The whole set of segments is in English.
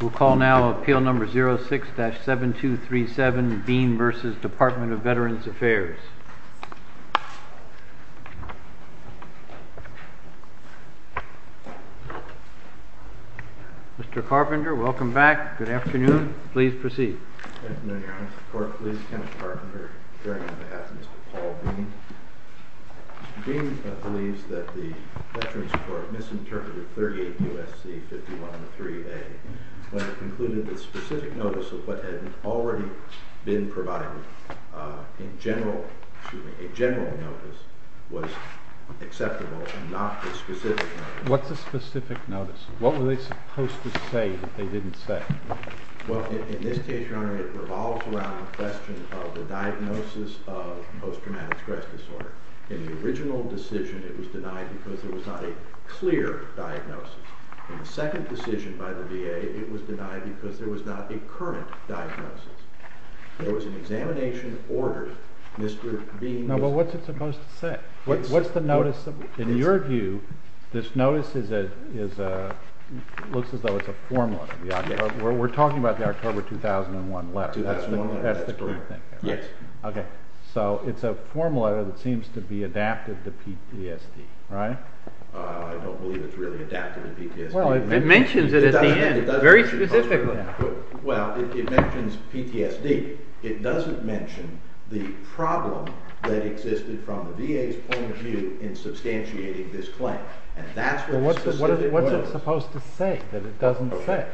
We'll call now appeal number 06-7237, Dean v. Department of Veterans Affairs. Mr. Carpenter, welcome back. Good afternoon. Please proceed. Good afternoon, Your Honor. The court please count Carpenter bearing on behalf of Mr. Paul Dean. Mr. Dean believes that the Veterans Court misinterpreted 38 U.S.C. 51-3A when it concluded that specific notice of what had already been provided in general, excuse me, a general notice was acceptable and not the specific notice. What's the specific notice? What were they supposed to say that they didn't say? Well, in this case, Your Honor, it revolves around the question of the diagnosis of post-traumatic stress disorder. In the original decision, it was denied because there was not a clear diagnosis. In the second decision by the VA, it was denied because there was not a current diagnosis. There was an examination order. No, but what's it supposed to say? What's the notice? In your view, this notice looks as though it's a form letter. We're talking about the October 2001 letter. That's the key thing there, right? Yes. Okay. So it's a form letter that seems to be adapted to PTSD, right? I don't believe it's really adapted to PTSD. It mentions it at the end, very specifically. Well, it mentions PTSD. It doesn't mention the problem that existed from the VA's point of view in substantiating this claim, and that's what the specific notice is. What's it supposed to say that it doesn't say?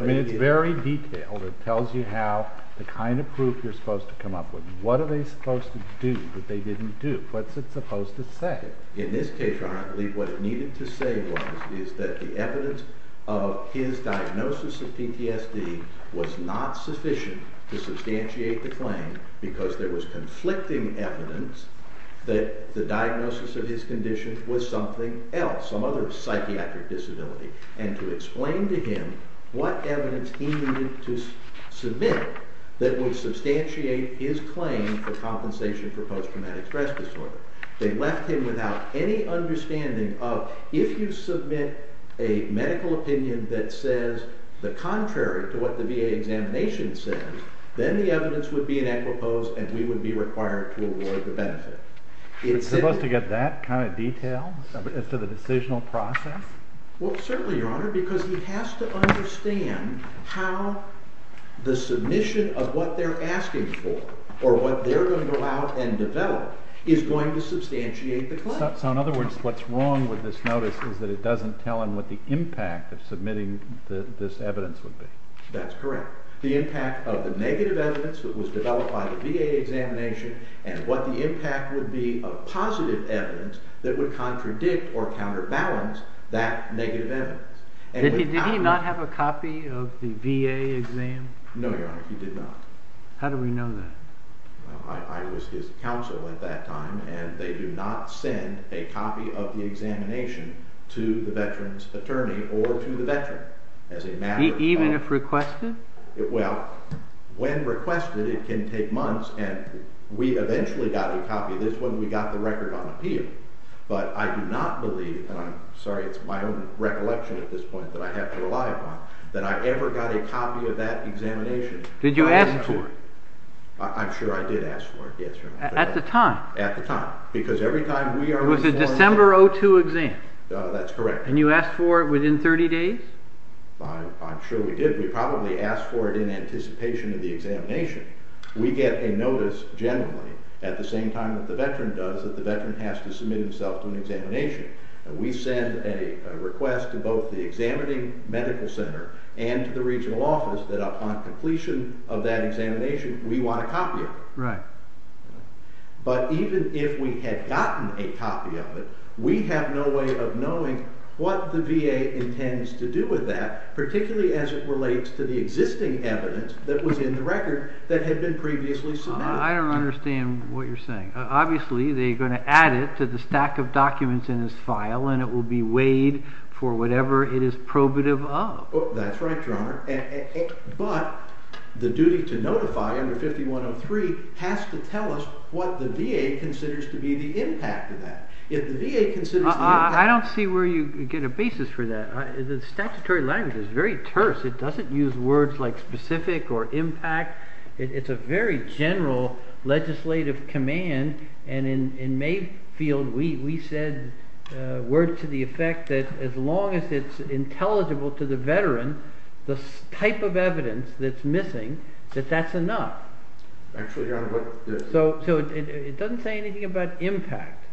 I mean, it's very detailed. It tells you how the kind of proof you're supposed to come up with. What are they supposed to do that they didn't do? What's it supposed to say? In this case, I believe what it needed to say was that the evidence of his diagnosis of PTSD was not sufficient to substantiate the claim because there was conflicting evidence that the diagnosis of his condition was something else, some other psychiatric disability, and to explain to him what evidence he needed to submit that would substantiate his claim for compensation for post-traumatic stress disorder. They left him without any understanding of if you submit a medical opinion that says the contrary to what the VA examination says, then the evidence would be in equipost and we would be required to award the benefit. It's supposed to get that kind of detail as to the decisional process? Well, certainly, Your Honor, because he has to understand how the submission of what they're asking for or what they're going to allow and develop is going to substantiate the claim. So, in other words, what's wrong with this notice is that it doesn't tell him what the impact of submitting this evidence would be? That's correct. The impact of the negative evidence that was developed by the VA examination and what the impact would be of positive evidence that would contradict or counterbalance that negative evidence. Did he not have a copy of the VA exam? No, Your Honor, he did not. How do we know that? Well, I was his counsel at that time, and they do not send a copy of the examination to the veteran's attorney or to the veteran as a matter of fact. Even if requested? Well, when requested, it can take months, and we eventually got a copy. This one, we got the record on appeal. But I do not believe, and I'm sorry, it's my own recollection at this point that I have to rely upon, that I ever got a copy of that examination. Did you ask for it? I'm sure I did ask for it, yes, Your Honor. At the time? At the time, because every time we are informed... It was a December 2002 exam. That's correct. And you asked for it within 30 days? I'm sure we did. We probably asked for it in anticipation of the examination. We get a notice generally at the same time that the veteran does that the veteran has to submit himself to an examination. We send a request to both the examining medical center and to the regional office that upon completion of that examination, we want a copy of it. Right. But even if we had gotten a copy of it, we have no way of knowing what the VA intends to do with that, particularly as it relates to the existing evidence that was in the record that had been previously submitted. I don't understand what you're saying. Obviously, they're going to add it to the stack of documents in his file, and it will be weighed for whatever it is probative of. That's right, Your Honor. But the duty to notify under 5103 has to tell us what the VA considers to be the impact of that. I don't see where you get a basis for that. The statutory language is very terse. It doesn't use words like specific or impact. It's a very general legislative command. In Mayfield, we said word to the effect that as long as it's intelligible to the veteran, the type of evidence that's missing, that that's enough. So it doesn't say anything about impact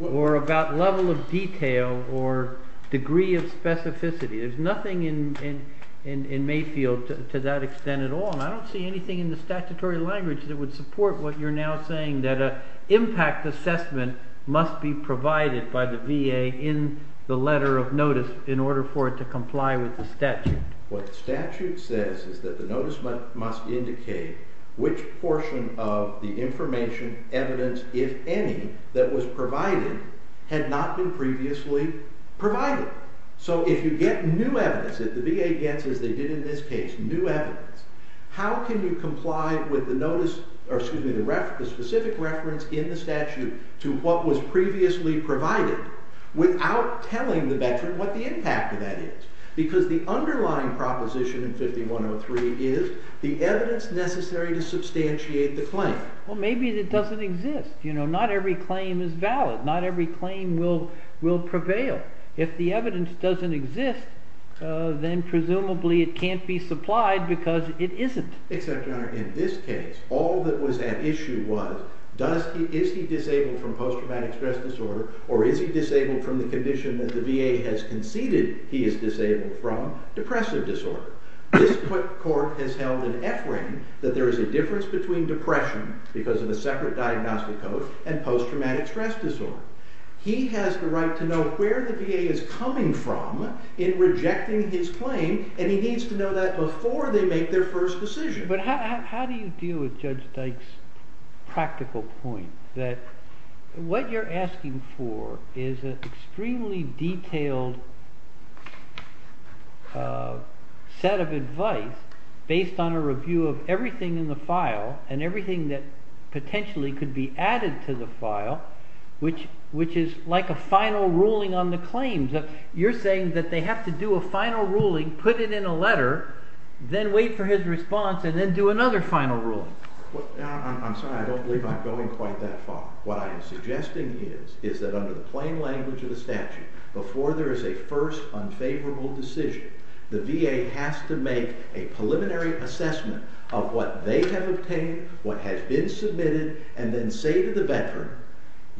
or about level of detail or degree of specificity. There's nothing in Mayfield to that extent at all. I don't see anything in the statutory language that would support what you're now saying, that an impact assessment must be provided by the VA in the letter of notice in order for it to comply with the statute. What the statute says is that the notice must indicate which portion of the information, evidence, if any, that was provided had not been previously provided. So if you get new evidence, if the VA gets, as they did in this case, new evidence, how can you comply with the specific reference in the statute to what was previously provided without telling the veteran what the impact of that is? Because the underlying proposition in 5103 is the evidence necessary to substantiate the claim. Well, maybe it doesn't exist. Not every claim is valid. Not every claim will prevail. If the evidence doesn't exist, then presumably it can't be supplied because it isn't. Except, Your Honor, in this case, all that was at issue was is he disabled from post-traumatic stress disorder or is he disabled from the condition that the VA has conceded he is disabled from, depressive disorder. This court has held an effort that there is a difference between depression, because of a separate diagnostic code, and post-traumatic stress disorder. He has the right to know where the VA is coming from in rejecting his claim, and he needs to know that before they make their first decision. But how do you deal with Judge Dyke's practical point that what you're asking for is an extremely detailed set of advice based on a review of everything in the file and everything that potentially could be added to the file, which is like a final ruling on the claims. You're saying that they have to do a final ruling, put it in a letter, then wait for his response, and then do another final ruling. I'm sorry, I don't believe I'm going quite that far. What I am suggesting is that under the plain language of the statute, before there is a first unfavorable decision, the VA has to make a preliminary assessment of what they have obtained, what has been submitted, and then say to the veteran,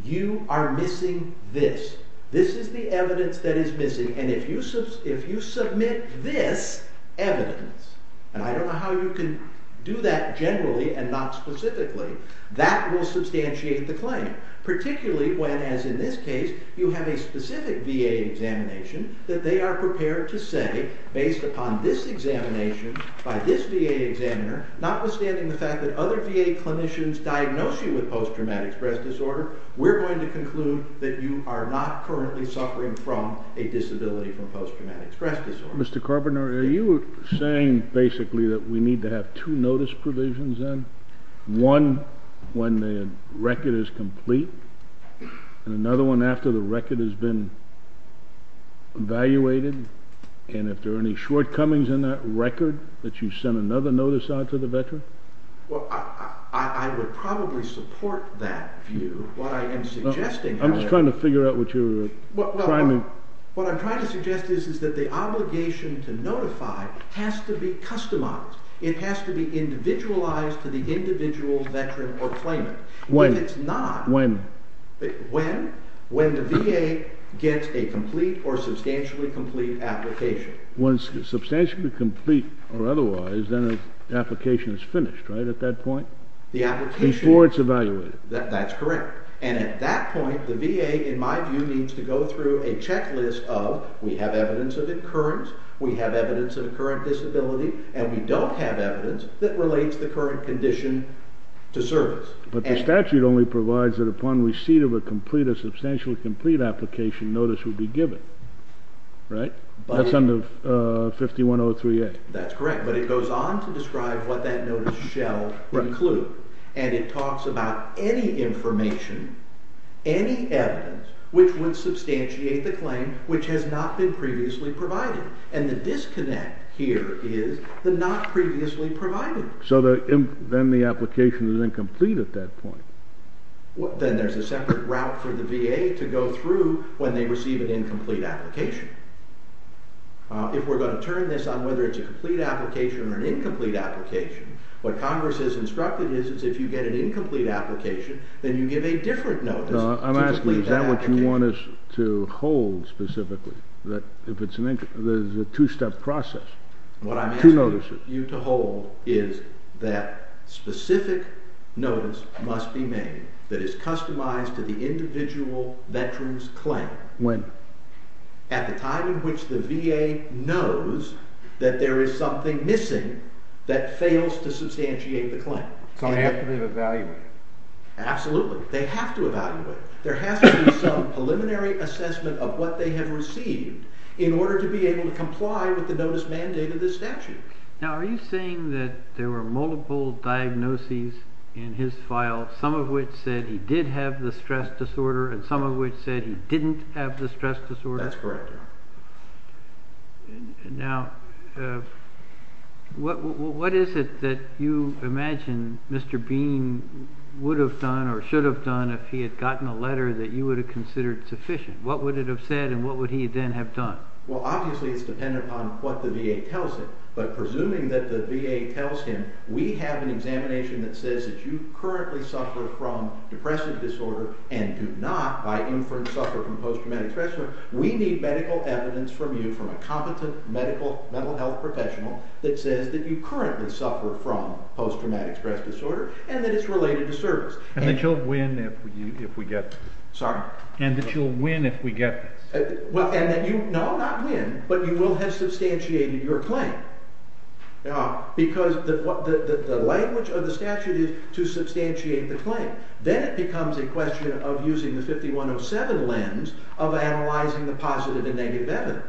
you are missing this. This is the evidence that is missing, and if you submit this evidence, and I don't know how you can do that generally and not specifically, that will substantiate the claim. Particularly when, as in this case, you have a specific VA examination that they are prepared to say, based upon this examination by this VA examiner, notwithstanding the fact that other VA clinicians diagnose you with post-traumatic stress disorder, we're going to conclude that you are not currently suffering from a disability from post-traumatic stress disorder. Mr. Carpenter, are you saying basically that we need to have two notice provisions then? One when the record is complete, and another one after the record has been evaluated, and if there are any shortcomings in that record, that you send another notice out to the veteran? Well, I would probably support that view. What I am suggesting is... I'm just trying to figure out what you're trying to... What I'm trying to suggest is that the obligation to notify has to be customized. It has to be individualized to the individual veteran or claimant. When? If it's not... When? When the VA gets a complete or substantially complete application. When it's substantially complete or otherwise, then the application is finished, right, at that point? The application... Before it's evaluated. That's correct. And at that point, the VA, in my view, needs to go through a checklist of, we have evidence of incurrence, we have evidence of a current disability, and we don't have evidence that relates the current condition to service. But the statute only provides that upon receipt of a substantially complete application, notice would be given, right? That's under 5103A. That's correct, but it goes on to describe what that notice shall include, and it talks about any information, any evidence, which would substantiate the claim, which has not been previously provided. And the disconnect here is the not previously provided. So then the application is incomplete at that point. Then there's a separate route for the VA to go through when they receive an incomplete application. If we're going to turn this on whether it's a complete application or an incomplete application, what Congress has instructed is if you get an incomplete application, then you give a different notice. I'm asking, is that what you want us to hold specifically, that if it's a two-step process, two notices? What I'm asking you to hold is that specific notice must be made that is customized to the individual veteran's claim. When? At the time in which the VA knows that there is something missing that fails to substantiate the claim. So they have to be evaluated. Absolutely. They have to evaluate. There has to be some preliminary assessment of what they have received in order to be able to comply with the notice mandate of this statute. Now, are you saying that there were multiple diagnoses in his file, some of which said he did have the stress disorder and some of which said he didn't have the stress disorder? That's correct. Now, what is it that you imagine Mr. Bean would have done or should have done if he had gotten a letter that you would have considered sufficient? What would it have said and what would he then have done? Well, obviously it's dependent upon what the VA tells him, but presuming that the VA tells him, we have an examination that says that you currently suffer from depressive disorder and do not, by inference, suffer from post-traumatic stress disorder, we need medical evidence from you, from a competent medical, mental health professional, that says that you currently suffer from post-traumatic stress disorder and that it's related to service. And that you'll win if we get this? Sorry? And that you'll win if we get this? No, not win, but you will have substantiated your claim. Because the language of the statute is to substantiate the claim. Then it becomes a question of using the 5107 lens of analyzing the positive and negative evidence.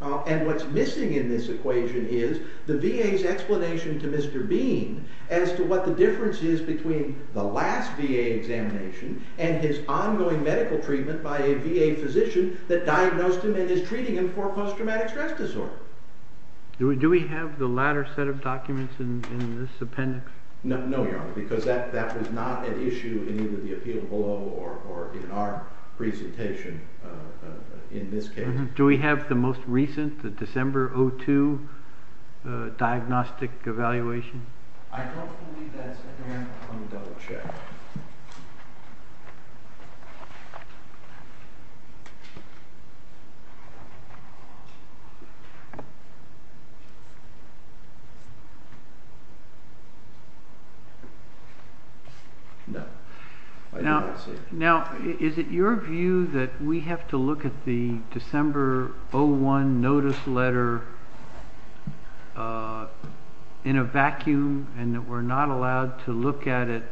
And what's missing in this equation is the VA's explanation to Mr. Bean as to what the difference is between the last VA examination and his ongoing medical treatment by a VA physician that diagnosed him and is treating him for post-traumatic stress disorder. Do we have the latter set of documents in this appendix? No, Your Honor, because that was not an issue in either the appeal below or in our presentation in this case. Do we have the most recent, the December 2002 diagnostic evaluation? I don't believe that's in there. Let me double check. No, I don't see it. Now, is it your view that we have to look at the December 2001 notice letter in a vacuum and that we're not allowed to look at it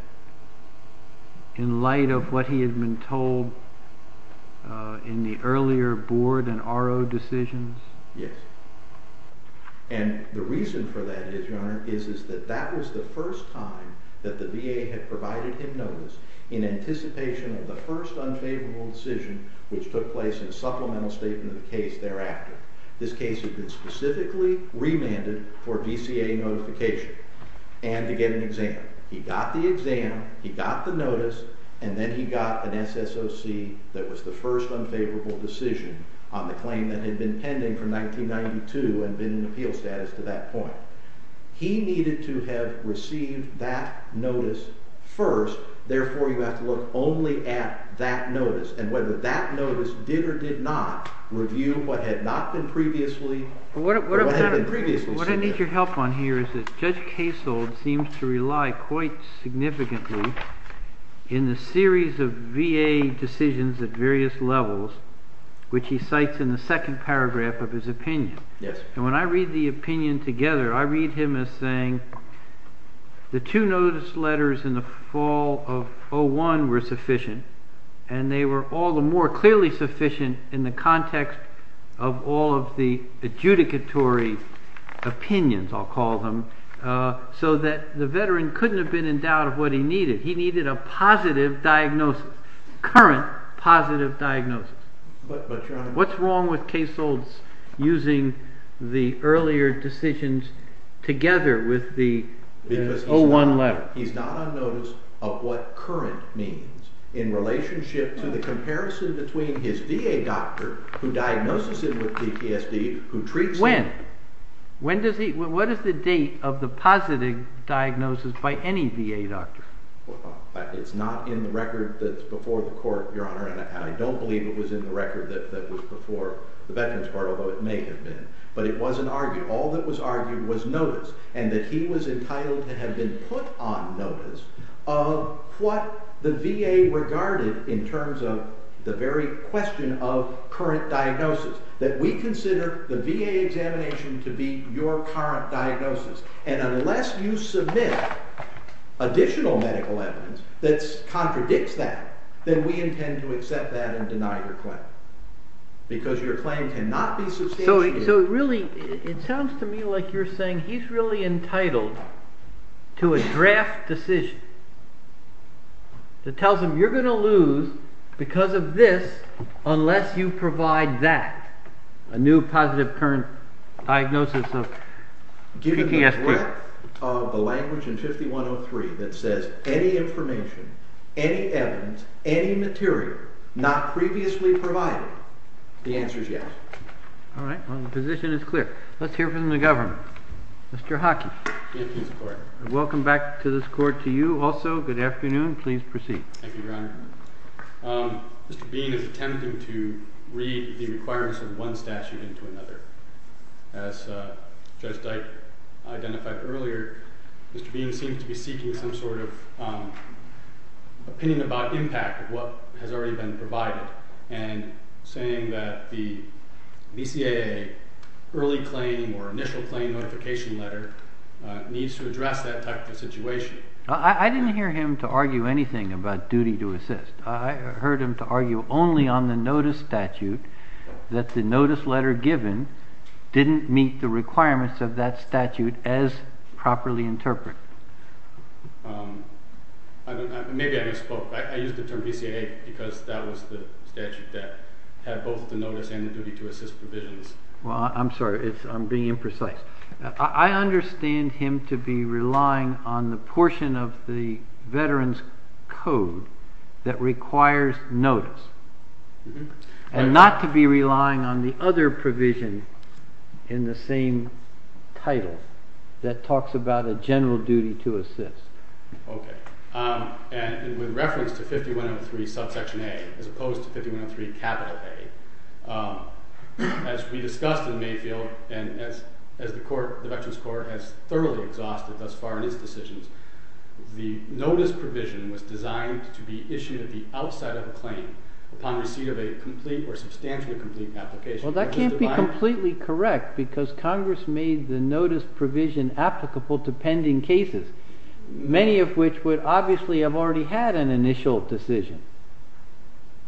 in light of what he had been told in the earlier board and RO decisions? Yes. And the reason for that is, Your Honor, is that that was the first time that the VA had provided him notice in anticipation of the first unfavorable decision which took place in supplemental statement of the case thereafter. This case had been specifically remanded for VCA notification and to get an exam. He got the exam, he got the notice, and then he got an SSOC that was the first unfavorable decision on the claim that had been pending from 1992 and been in appeal status to that point. He needed to have received that notice first. Therefore, you have to look only at that notice and whether that notice did or did not review what had not been previously seen. What I need your help on here is that Judge Kasold seems to rely quite significantly in the series of VA decisions at various levels, which he cites in the second paragraph of his opinion. Yes. And when I read the opinion together, I read him as saying the two notice letters in the fall of 2001 were sufficient and they were all the more clearly sufficient in the context of all of the adjudicatory opinions, I'll call them, so that the veteran couldn't have been in doubt of what he needed. He needed a positive diagnosis, current positive diagnosis. What's wrong with Kasold's using the earlier decisions together with the 01 letter? He's not on notice of what current means in relationship to the comparison between his VA doctor, who diagnoses him with PTSD, who treats him. When? What is the date of the positive diagnosis by any VA doctor? It's not in the record that's before the court, Your Honor, and I don't believe it was in the record that was before the Veterans Court, although it may have been, but it wasn't argued. All that was argued was notice, and that he was entitled to have been put on notice of what the VA regarded in terms of the very question of current diagnosis, that we consider the VA examination to be your current diagnosis, and unless you submit additional medical evidence that contradicts that, then we intend to accept that and deny your claim, because your claim cannot be substantiated. So really, it sounds to me like you're saying he's really entitled to a draft decision that tells him you're going to lose because of this unless you provide that, a new positive current diagnosis of PTSD. The language in 5103 that says any information, any evidence, any material not previously provided, the answer is yes. All right. Well, the position is clear. Let's hear from the government. Mr. Hockey. Thank you, Your Honor. Welcome back to this court to you also. Good afternoon. Please proceed. Thank you, Your Honor. Mr. Bean is attempting to read the requirements of one statute into another. As Judge Dyke identified earlier, Mr. Bean seems to be seeking some sort of opinion about impact of what has already been provided and saying that the BCAA early claim or initial claim notification letter needs to address that type of a situation. I didn't hear him to argue anything about duty to assist. I heard him to argue only on the notice statute that the notice letter given didn't meet the requirements of that statute as properly interpreted. Maybe I misspoke. I used the term BCAA because that was the statute that had both the notice and the duty to assist provisions. Well, I'm sorry. I'm being imprecise. I understand him to be relying on the portion of the Veterans Code that requires notice and not to be relying on the other provision in the same title that talks about a general duty to assist. Okay. And with reference to 5103 subsection A as opposed to 5103 capital A, as we discussed in Mayfield and as the Veterans Court has thoroughly exhausted thus far in its decisions, the notice provision was designed to be issued at the outside of a claim upon receipt of a complete or substantially complete application. Well, that can't be completely correct because Congress made the notice provision applicable to pending cases, many of which would obviously have already had an initial decision.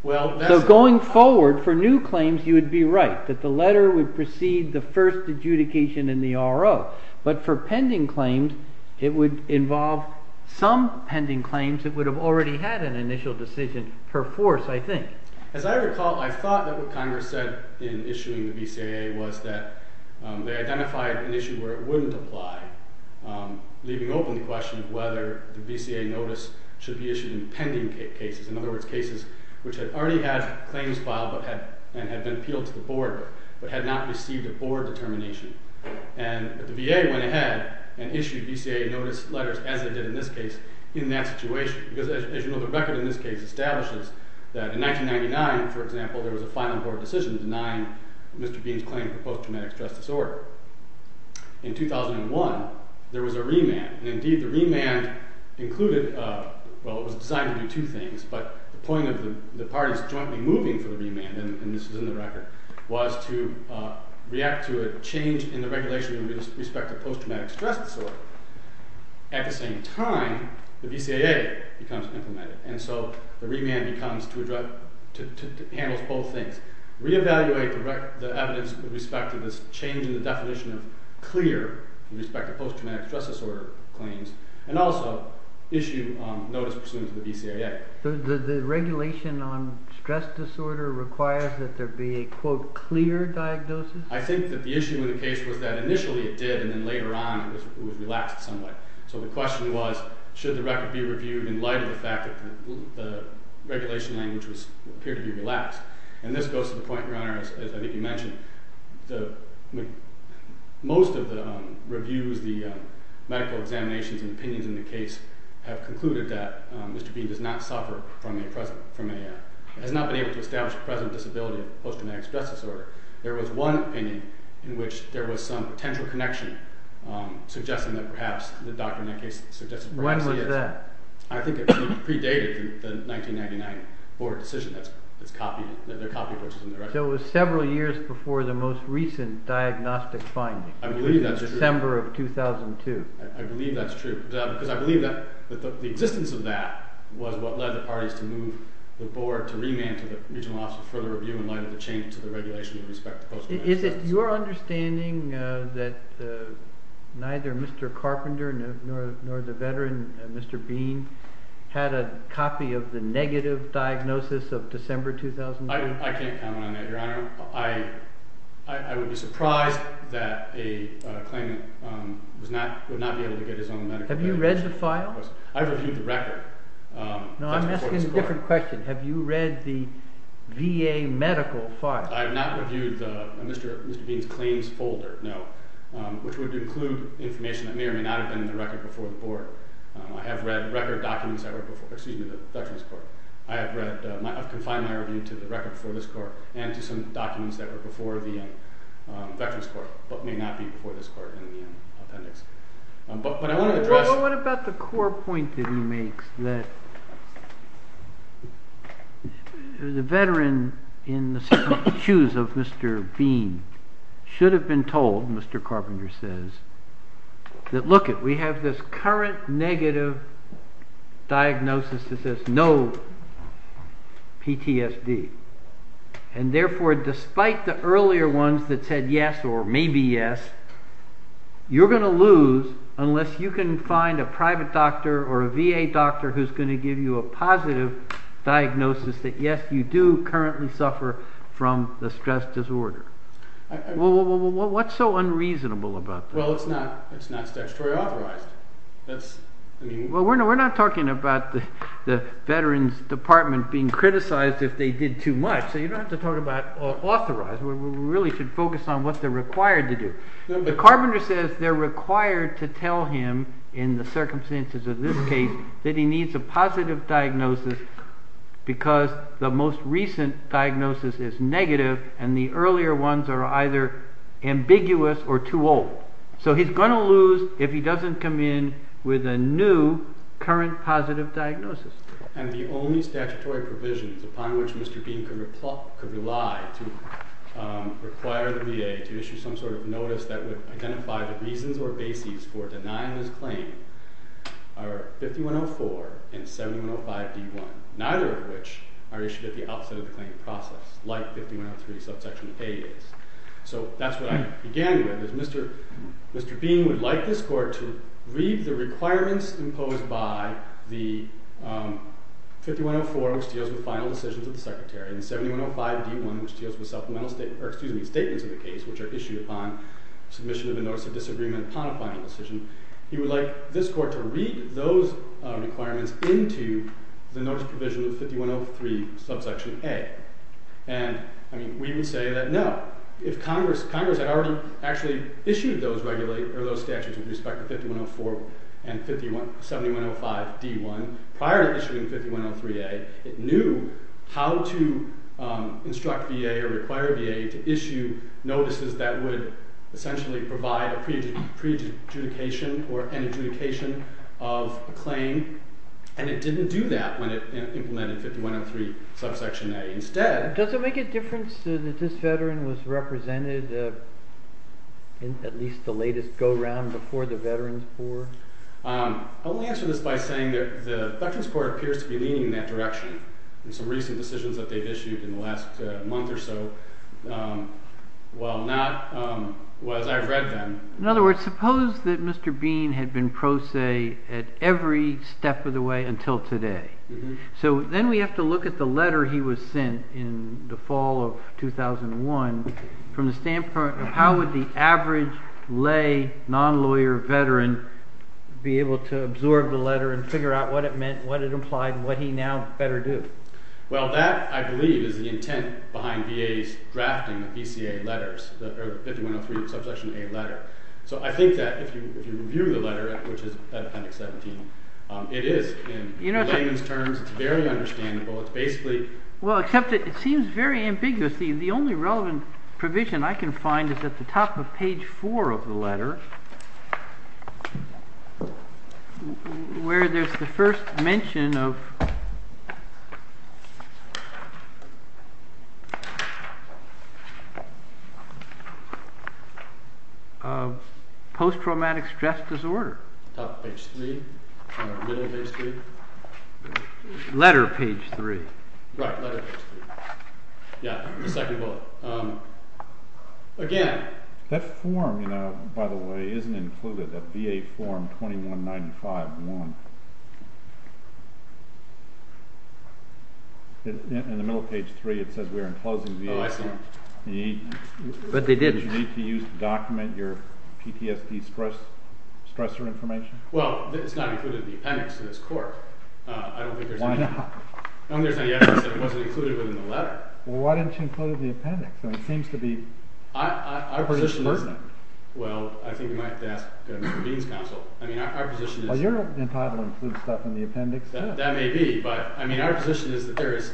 So going forward for new claims you would be right that the letter would precede the first adjudication in the RO, but for pending claims it would involve some pending claims that would have already had an initial decision per force, I think. As I recall, I thought that what Congress said in issuing the BCAA was that they identified an issue where it wouldn't apply, leaving open the question of whether the BCAA notice should be issued in pending cases, in other words, cases which had already had claims filed and had been appealed to the board but had not received a board determination. And the VA went ahead and issued BCAA notice letters, as they did in this case, in that situation. Because, as you know, the record in this case establishes that in 1999, for example, there was a final board decision denying Mr. Bean's claim for post-traumatic stress disorder. In 2001 there was a remand, and indeed the remand included... Well, it was designed to do two things, but the point of the parties jointly moving for the remand, and this is in the record, was to react to a change in the regulation with respect to post-traumatic stress disorder. At the same time, the BCAA becomes implemented, and so the remand becomes... handles both things. Re-evaluate the evidence with respect to this change in the definition of clear with respect to post-traumatic stress disorder claims, and also issue notice pursuant to the BCAA. So does the regulation on stress disorder require that there be a, quote, clear diagnosis? I think that the issue in the case was that initially it did, and then later on it was relaxed somewhat. So the question was, should the record be reviewed in light of the fact that the regulation language appeared to be relaxed? And this goes to the point, Your Honor, as I think you mentioned. Most of the reviews, the medical examinations and opinions in the case have concluded that Mr. Bean has not been able to establish the present disability of post-traumatic stress disorder. There was one opinion in which there was some potential connection, suggesting that perhaps the doctor in that case... When was that? I think it predated the 1999 board decision that their copy of the book was in the record. So it was several years before the most recent diagnostic finding. I believe that's true. In December of 2002. I believe that's true, because I believe that the existence of that was what led the parties to move the board to remand to the regional office for further review in light of the change to the regulation with respect to post-traumatic stress disorder. Is it your understanding that neither Mr. Carpenter nor the veteran, Mr. Bean, had a copy of the negative diagnosis of December 2002? I can't comment on that, Your Honor. I would be surprised that a claim would not be able to get his own medical record. Have you read the file? I've reviewed the record. No, I'm asking a different question. Have you read the VA medical file? I have not reviewed Mr. Bean's claims folder, no, which would include information that may or may not have been in the record before the board. I have read record documents that were before the veterans court. I've confined my review to the record before this court and to some documents that were before the veterans court, but may not be before this court in the appendix. What about the core point that he makes, that the veteran in the shoes of Mr. Bean should have been told, Mr. Carpenter says, that look, we have this current negative diagnosis that says no PTSD, and therefore despite the earlier ones that said yes or maybe yes, you're going to lose unless you can find a private doctor or a VA doctor who's going to give you a positive diagnosis that yes, you do currently suffer from a stress disorder. Well, what's so unreasonable about that? Well, it's not statutory authorized. Well, we're not talking about the veterans department being criticized if they did too much, so you don't have to talk about authorized. We really should focus on what they're required to do. But Carpenter says they're required to tell him in the circumstances of this case that he needs a positive diagnosis because the most recent diagnosis is negative and the earlier ones are either ambiguous or too old. So he's going to lose if he doesn't come in with a new current positive diagnosis. And the only statutory provisions upon which Mr. Bean could rely to require the VA to issue some sort of notice that would identify the reasons or bases for denying this claim are 5104 and 7105-D1, neither of which are issued at the outset of the claim process, like 5103 subsection A is. So that's what I began with, is Mr. Bean would like this court to read the requirements imposed by the 5104, which deals with final decisions of the secretary, and 7105-D1, which deals with statements of the case which are issued upon submission of a notice of disagreement upon a final decision. He would like this court to read those requirements into the notice provision of 5103 subsection A. And we would say that no. If Congress had already actually issued those statutes with respect to 5104 and 7105-D1, prior to issuing 5103-A, it knew how to instruct VA or require VA to issue notices that would essentially provide a pre-adjudication or an adjudication of a claim, and it didn't do that when it implemented 5103 subsection A. Instead... Does it make a difference that this veteran was represented in at least the latest go-round before the veterans' board? I'll answer this by saying that the veterans' board appears to be leaning in that direction. In some recent decisions that they've issued in the last month or so, well, not as I've read them. In other words, suppose that Mr. Bean had been pro se at every step of the way until today. So then we have to look at the letter he was sent in the fall of 2001 from the standpoint of how would the average lay, non-lawyer veteran be able to absorb the letter and figure out what it meant, what it implied, and what he now better do. Well, that, I believe, is the intent behind VA's drafting of BCA letters, of 5103 subsection A letter. So I think that if you review the letter, which is at Appendix 17, it is in layman's terms. It's very understandable. It's basically... Well, except it seems very ambiguous. The only relevant provision I can find is at the top of page 4 of the letter, where there's the first mention of... post-traumatic stress disorder. Top of page 3? Middle of page 3? Letter, page 3. Right, letter, page 3. Yeah, the second bullet. Again... That form, by the way, isn't included, that VA form 2195-1. In the middle of page 3, it says we are enclosing VA... Oh, I see. But they did... Do you need to use it to document your PTSD stressor information? Well, it's not included in the appendix to this court. Why not? I don't think there's any evidence that it wasn't included within the letter. Well, why didn't you include it in the appendix? I mean, it seems to be... Well, I think you might have to ask Mr. Bean's counsel. I mean, our position is... Well, you're entitled to include stuff in the appendix, too. That may be, but I mean, our position is that there is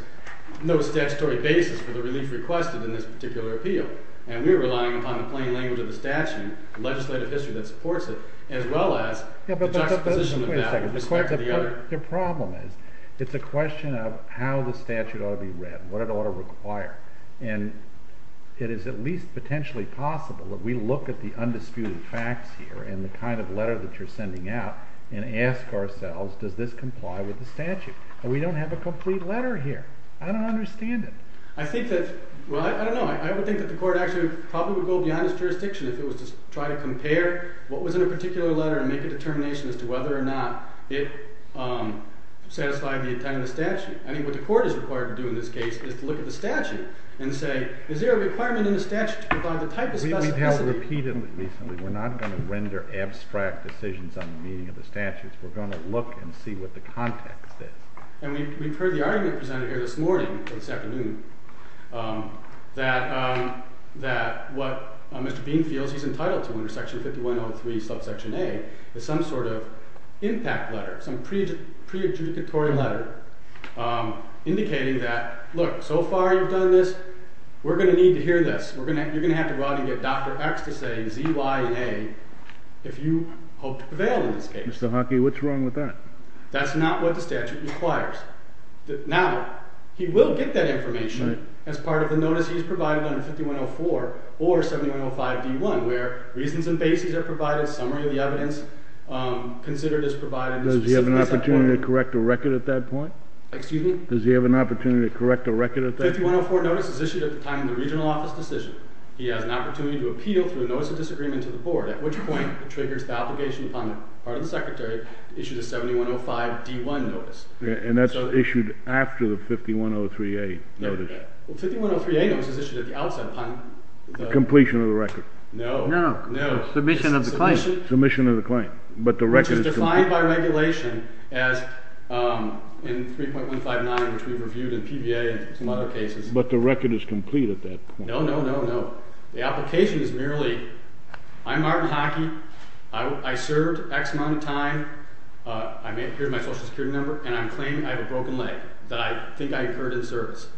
no statutory basis for the relief requested in this particular appeal. And we're relying upon the plain language of the statute, legislative history that supports it, as well as the juxtaposition of that with respect to the other. The problem is, it's a question of how the statute ought to be read, what it ought to require. And it is at least potentially possible that we look at the undisputed facts here in the kind of letter that you're sending out and ask ourselves, does this comply with the statute? And we don't have a complete letter here. I don't understand it. I think that... Well, I don't know. I would think that the court actually probably would go beyond its jurisdiction if it was to try to compare what was in a particular letter and make a determination as to whether or not it satisfied the intent of the statute. I think what the court is required to do in this case is to look at the statute and say, is there a requirement in the statute to provide the type of specificity... We've held a repeat of it recently. We're not going to render abstract decisions on the meaning of the statute. We're going to look and see what the context is. And we've heard the argument presented here this morning, or this afternoon, that what Mr. Bean feels he's entitled to under Section 5103, Subsection A is some sort of impact letter, some pre-adjudicatory letter, indicating that, look, so far you've done this, we're going to need to hear this. You're going to have to go out and get Dr. X to say Z, Y, and A if you hope to prevail in this case. Mr. Hockey, what's wrong with that? That's not what the statute requires. Now, he will get that information as part of the notice he's provided under 5104 or 7105D1, where reasons and bases are provided, summary of the evidence considered is provided... Does he have an opportunity to correct a record at that point? Excuse me? Does he have an opportunity to correct a record at that point? 5104 notice is issued at the time of the regional office decision. He has an opportunity to appeal through a notice of disagreement to the board, at which point it triggers the obligation upon the part of the secretary to issue the 7105D1 notice. And that's issued after the 5103A notice? Well, 5103A notice is issued at the outset upon... Completion of the record? No. No. Submission of the claim. Submission of the claim. Which is defined by regulation as in 3.159, which we reviewed in PBA and some other cases. But the record is complete at that point? No, no, no, no. The application is merely, I'm Martin Hockey, I served X amount of time, here's my Social Security number, and I'm claiming I have a broken leg that I think I incurred in service,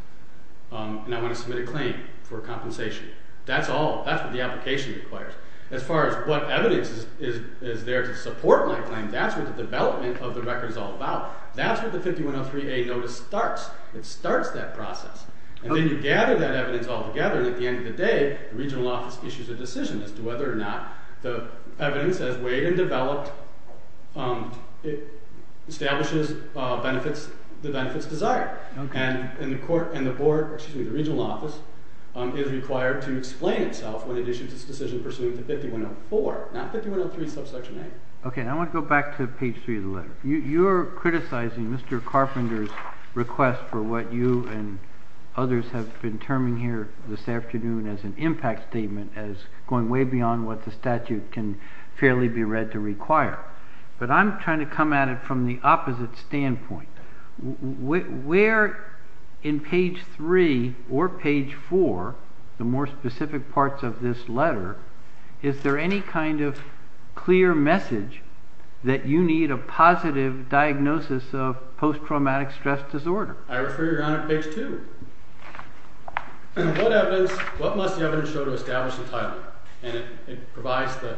and I want to submit a claim for compensation. That's all. That's what the application requires. As far as what evidence is there to support my claim, that's what the development of the record is all about. That's what the 5103A notice starts. It starts that process. And then you gather that evidence all together, and at the end of the day, the regional office issues a decision as to whether or not the evidence as weighed and developed establishes the benefits desired. And the board, excuse me, the regional office, is required to explain itself when it issues its decision pursuant to 5104, not 5103 subsection A. Okay, and I want to go back to page 3 of the letter. You're criticizing Mr. Carpenter's request for what you and others have been terming here this afternoon as an impact statement, as going way beyond what the statute can fairly be read to require. But I'm trying to come at it from the opposite standpoint. Where in page 3 or page 4, the more specific parts of this letter, is there any kind of clear message that you need a positive diagnosis of post-traumatic stress disorder? I refer you now to page 2. What must the evidence show to establish the title? And it provides the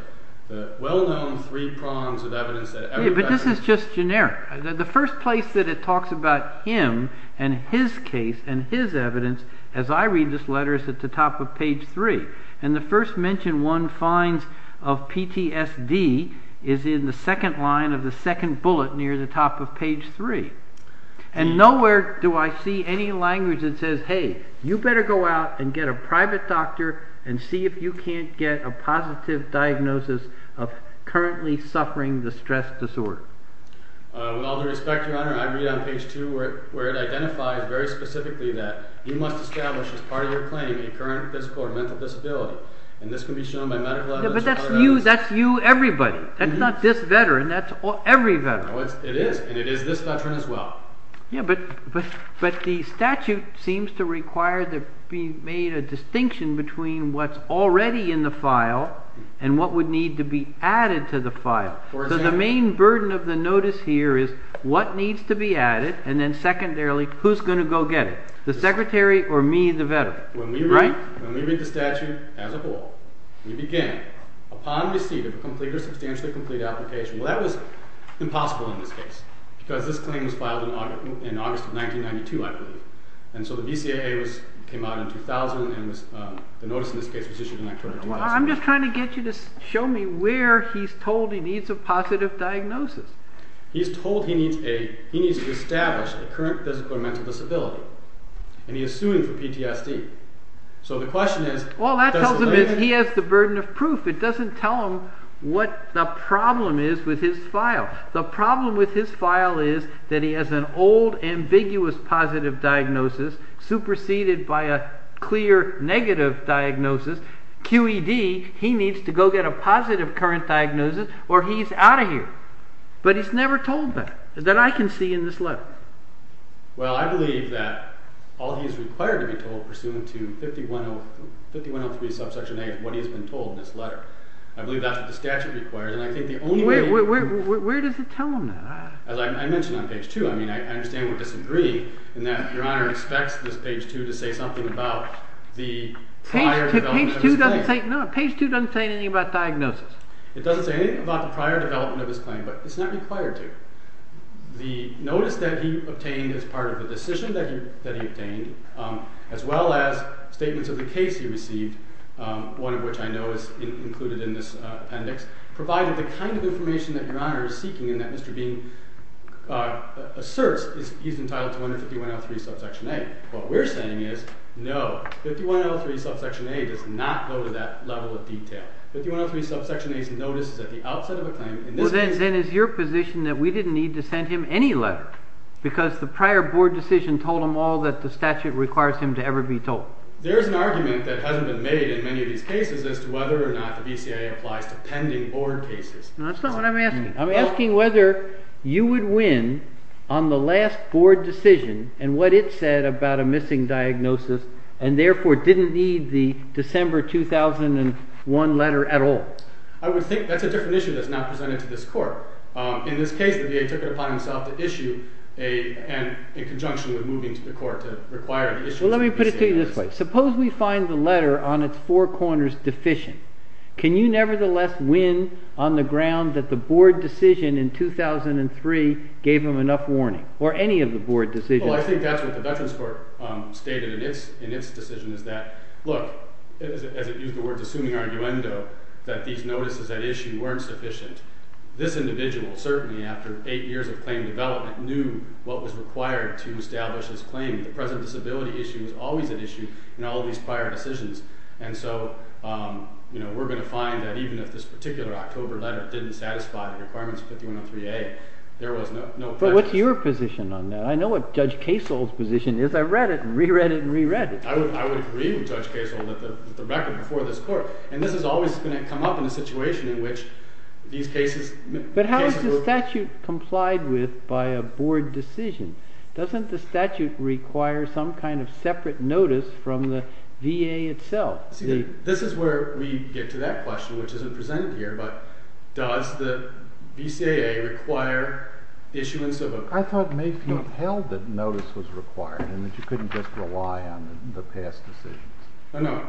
well-known three prongs of evidence. But this is just generic. The first place that it talks about him and his case and his evidence, as I read this letter, is at the top of page 3. And the first mention one finds of PTSD is in the second line of the second bullet near the top of page 3. And nowhere do I see any language that says, hey, you better go out and get a private doctor and see if you can't get a positive diagnosis of currently suffering the stress disorder. With all due respect, Your Honor, I read on page 2 where it identifies very specifically that you must establish as part of your claim a current physical or mental disability. And this can be shown by medical evidence... But that's you, that's you, everybody. That's not this veteran, that's every veteran. It is, and it is this veteran as well. Yeah, but the statute seems to require to be made a distinction between what's already in the file and what would need to be added to the file. So the main burden of the notice here is what needs to be added and then secondarily who's going to go get it, the secretary or me, the veteran. When we read the statute as a whole, we begin, upon receipt of a complete or substantially complete application... Well, that was impossible in this case because this claim was filed in August of 1992, I believe. And so the BCAA came out in 2000 and the notice in this case was issued in October 2000. I'm just trying to get you to show me where he's told he needs a positive diagnosis. He's told he needs to establish a current physical or mental disability. And he is suing for PTSD. So the question is... Well, that tells him he has the burden of proof. It doesn't tell him what the problem is with his file. The problem with his file is that he has an old ambiguous positive diagnosis superseded by a clear negative diagnosis. QED, he needs to go get a positive current diagnosis or he's out of here. But he's never told that, that I can see in this letter. Well, I believe that all he's required to be told pursuant to 5103 subsection A is what he's been told in this letter. I believe that's what the statute requires. And I think the only way... Where does it tell him that? As I mentioned on page 2, I understand we're disagreeing in that Your Honor expects this page 2 to say something about the prior development of his claim. Page 2 doesn't say anything about diagnosis. It doesn't say anything about the prior development of his claim, but it's not required to. The notice that he obtained as part of the decision that he obtained as well as statements of the case he received, one of which I know is included in this appendix, provided the kind of information that Your Honor is seeking and that Mr. Bean asserts he's entitled to under 5103 subsection A. What we're saying is no, 5103 subsection A does not go to that level of detail. 5103 subsection A's notice is at the outset of a claim. Well, then is your position that we didn't need to send him any letter because the prior board decision told him all that the statute requires him to ever be told? There's an argument that hasn't been made in many of these cases as to whether or not the BCIA applies to pending board cases. That's not what I'm asking. I'm asking whether you would win on the last board decision and what it said about a missing diagnosis and therefore didn't need the December 2001 letter at all. I would think that's a different issue that's now presented to this court. In this case, the VA took it upon himself to issue in conjunction with moving to the court to require the issue to the BCIA. Well, let me put it to you this way. Suppose we find the letter on its four corners deficient. Can you nevertheless win on the ground that the board decision in 2003 gave him enough warning or any of the board decisions? Well, I think that's what the Veterans Court stated in its decision is that, look, as it used the word assuming arguendo, that these notices at issue weren't sufficient. This individual, certainly after eight years of claim development, knew what was required to establish his claim. The present disability issue was always at issue in all of these prior decisions. And so we're going to find that even if this particular October letter didn't satisfy the requirements of 5103A, there was no question. But what's your position on that? I know what Judge Kasol's position is. I read it and re-read it and re-read it. I would agree with Judge Kasol that the record before this court... And this is always going to come up in a situation in which these cases... But how is the statute complied with by a board decision? Doesn't the statute require some kind of separate notice from the VA itself? This is where we get to that question, which isn't presented here, but does the BCAA require issuance of a... I thought Mayfield held that notice was required and that you couldn't just rely on the past decisions. No, no.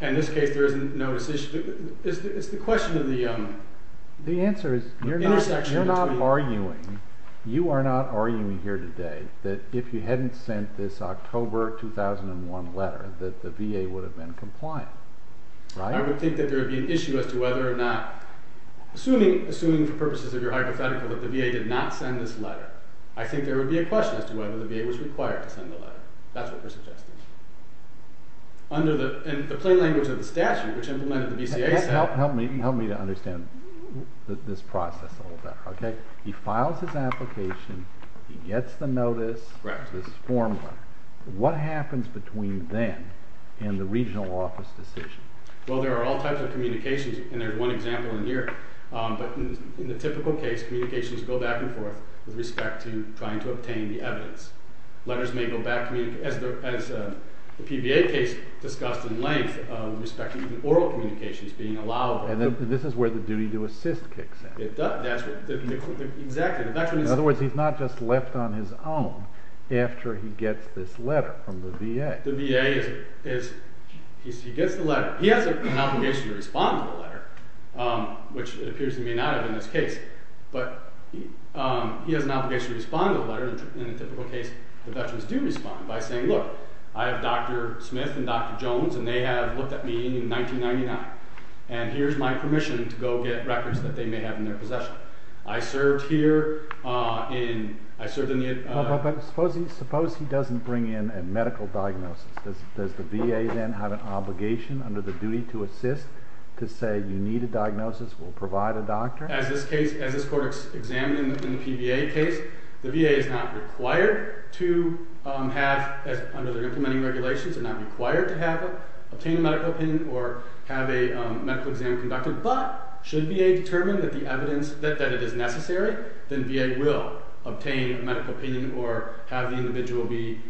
In this case, there is no decision. It's the question of the intersection between... The answer is you're not arguing here today that if you hadn't sent this October 2001 letter that the VA would have been compliant, right? I would think that there would be an issue as to whether or not... Assuming for purposes of your hypothetical that the VA did not send this letter, I think there would be a question as to whether the VA was required to send the letter. That's what we're suggesting. And the plain language of the statute, which implemented the BCAA... Help me to understand this process a little better. He files his application. He gets the notice. This is formal. What happens between then and the regional office decision? Well, there are all types of communications, and there's one example in here. But in the typical case, communications go back and forth with respect to trying to obtain the evidence. Letters may go back to me, as the PVA case discussed in length, with respect to even oral communications being allowable. And this is where the duty to assist kicks in. It does. That's what... Exactly. In other words, he's not just left on his own after he gets this letter from the VA. The VA is... He gets the letter. He has an obligation to respond to the letter, which it appears he may not have in this case. But he has an obligation to respond to the letter. In the typical case, the veterans do respond by saying, Look, I have Dr. Smith and Dr. Jones, and they have looked at me in 1999, and here's my permission to go get records that they may have in their possession. I served here in... I served in the... But suppose he doesn't bring in a medical diagnosis. Does the VA then have an obligation under the duty to assist to say you need a diagnosis, we'll provide a doctor? As this case, as this court examined in the PVA case, the VA is not required to have, under their implementing regulations, they're not required to obtain a medical opinion or have a medical exam conducted. But should VA determine that the evidence, that it is necessary, then VA will obtain a medical opinion or have the individual be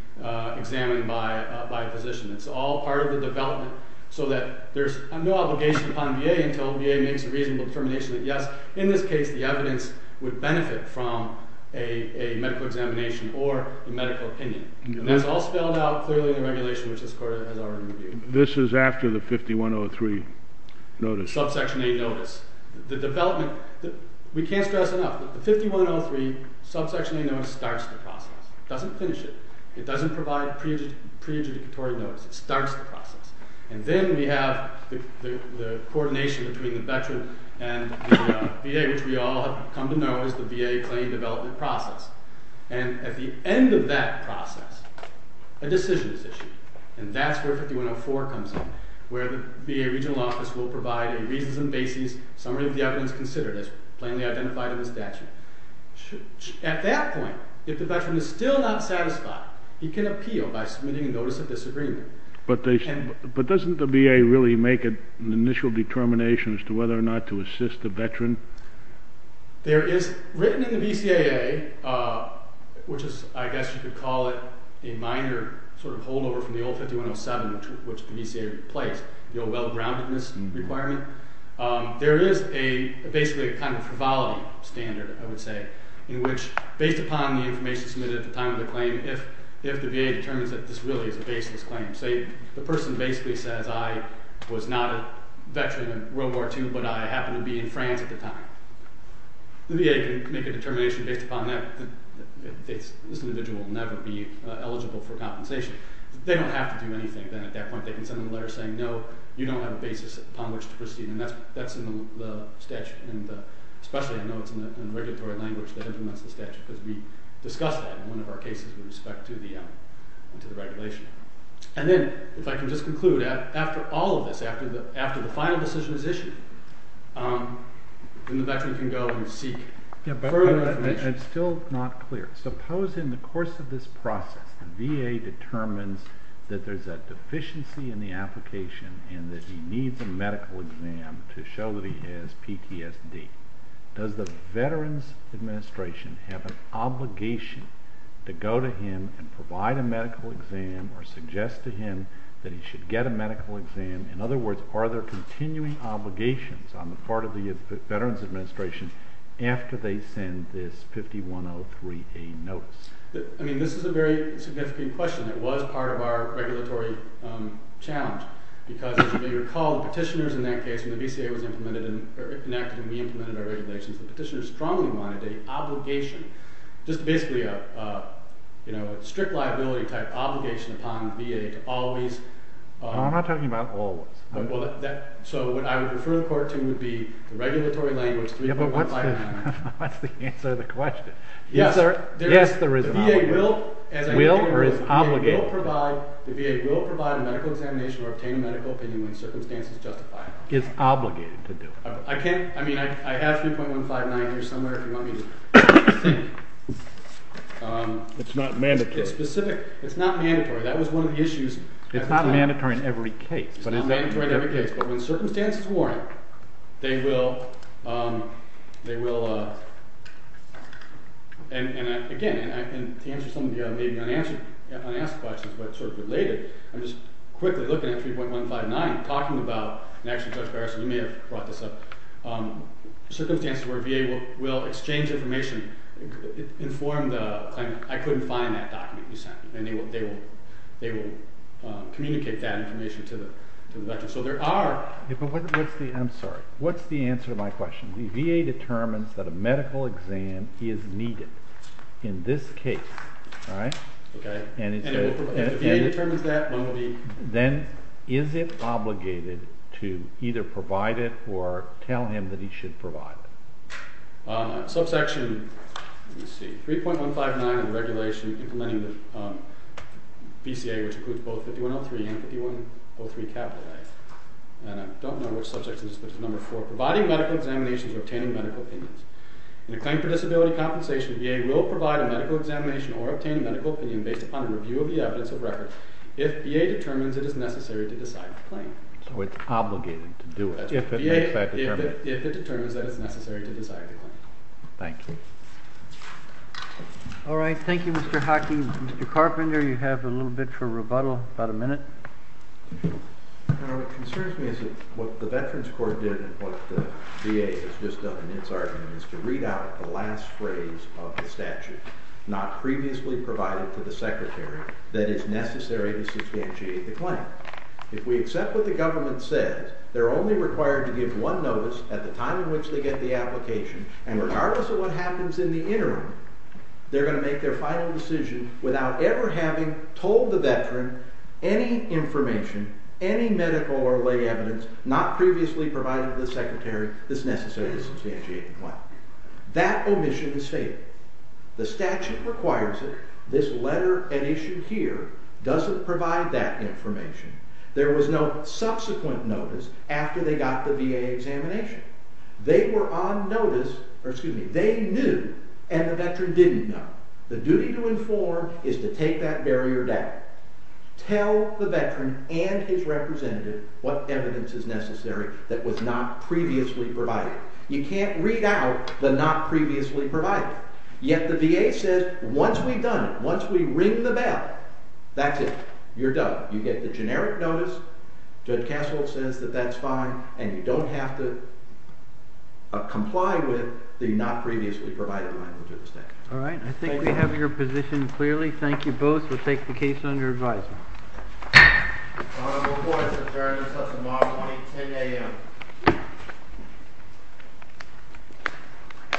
examined by a physician. It's all part of the development so that there's no obligation upon VA until VA makes a reasonable determination that, yes, in this case, the evidence would benefit from a medical examination or a medical opinion. And that's all spelled out clearly in the regulation, which this court has already reviewed. This is after the 5103 notice. Subsection A notice. The development... We can't stress enough that the 5103 subsection A notice starts the process. It doesn't finish it. It doesn't provide pre-adjudicatory notice. It starts the process. And then we have the coordination between the veteran and the VA, which we all have come to know as the VA claim development process. And at the end of that process, a decision is issued. And that's where 5104 comes in, where the VA regional office will provide a reasons and basis summary of the evidence considered as plainly identified in the statute. At that point, if the veteran is still not satisfied, he can appeal by submitting a notice of disagreement. But doesn't the VA really make an initial determination as to whether or not to assist the veteran? There is written in the BCAA, which is, I guess you could call it, a minor sort of holdover from the old 5107, which the BCAA replaced, the old well-groundedness requirement. There is basically a kind of frivolity standard, I would say, in which based upon the information submitted at the time of the claim, if the VA determines that this really is a baseless claim, say the person basically says, I was not a veteran in World War II, but I happened to be in France at the time, the VA can make a determination based upon that that this individual will never be eligible for compensation. If they don't have to do anything, then at that point they can send them a letter saying, no, you don't have a basis upon which to proceed, and that's in the statute. And especially I know it's in the regulatory language that implements the statute, because we discussed that in one of our cases with respect to the regulation. And then, if I can just conclude, after all of this, after the final decision is issued, then the veteran can go and seek further information. I'm still not clear. Suppose in the course of this process the VA determines that there's a deficiency in the application and that he needs a medical exam to show that he has PTSD. Does the Veterans Administration have an obligation to go to him and provide a medical exam or suggest to him that he should get a medical exam? In other words, are there continuing obligations on the part of the Veterans Administration after they send this 5103A notice? I mean, this is a very significant question. It was part of our regulatory challenge, because as you may recall, the petitioners in that case, when the VCA was enacted and we implemented our regulations, the petitioners strongly wanted an obligation, just basically a strict liability type obligation upon the VA to always... I'm not talking about always. So what I would refer the Court to would be the regulatory language 3.159. That's the answer to the question. Yes, there is an obligation. Will or is obligated? The VA will provide a medical examination or obtain a medical opinion when circumstances justify it. It's obligated to do it. I mean, I have 3.159 here somewhere if you want me to send it. It's not mandatory. It's specific. It's not mandatory. That was one of the issues. It's not mandatory in every case. It's not mandatory in every case, but when circumstances warrant, they will... Again, and to answer some of the maybe unanswered questions, but sort of related, I'm just quickly looking at 3.159, talking about, and actually, Judge Garrison, you may have brought this up, circumstances where VA will exchange information, inform the claimant, I couldn't find that document you sent, and they will communicate that information to the veteran. So there are... I'm sorry. What's the answer to my question? The VA determines that a medical exam is needed in this case, right? Okay. If the VA determines that, then is it obligated to either provide it or tell him that he should provide it? Subsection, let me see, 3.159 of the regulation implementing the VCA, which includes both 5103 and 5103 capital A, and I don't know which subject it is, but it's number 4, providing medical examinations or obtaining medical opinions. In a claim for disability compensation, the VA will provide a medical examination or obtain a medical opinion based upon a review of the evidence of record if VA determines it is necessary to decide the claim. So it's obligated to do it. If it makes that determination. If it determines that it's necessary to decide the claim. Thank you. All right. Thank you, Mr. Hockey. You know, what concerns me is that what the Veterans Court did and what the VA has just done in its argument is to read out the last phrase of the statute not previously provided to the Secretary that it's necessary to substantiate the claim. If we accept what the government says, they're only required to give one notice at the time in which they get the application, and regardless of what happens in the interim, they're going to make their final decision without ever having told the Veteran any information, any medical or lay evidence not previously provided to the Secretary that's necessary to substantiate the claim. That omission is fatal. The statute requires it. This letter and issue here doesn't provide that information. There was no subsequent notice after they got the VA examination. They were on notice, or excuse me, they knew, and the Veteran didn't know. The duty to inform is to take that barrier down. Tell the Veteran and his representative what evidence is necessary that was not previously provided. You can't read out the not previously provided. Yet the VA says, once we've done it, once we ring the bell, that's it. You're done. You get the generic notice. Judge Castle says that that's fine, and you don't have to comply with the not previously provided language of the statute. All right. I think we have your position clearly. Thank you both. We'll take the case under advisement. All reports are adjourned until tomorrow morning at 10 a.m.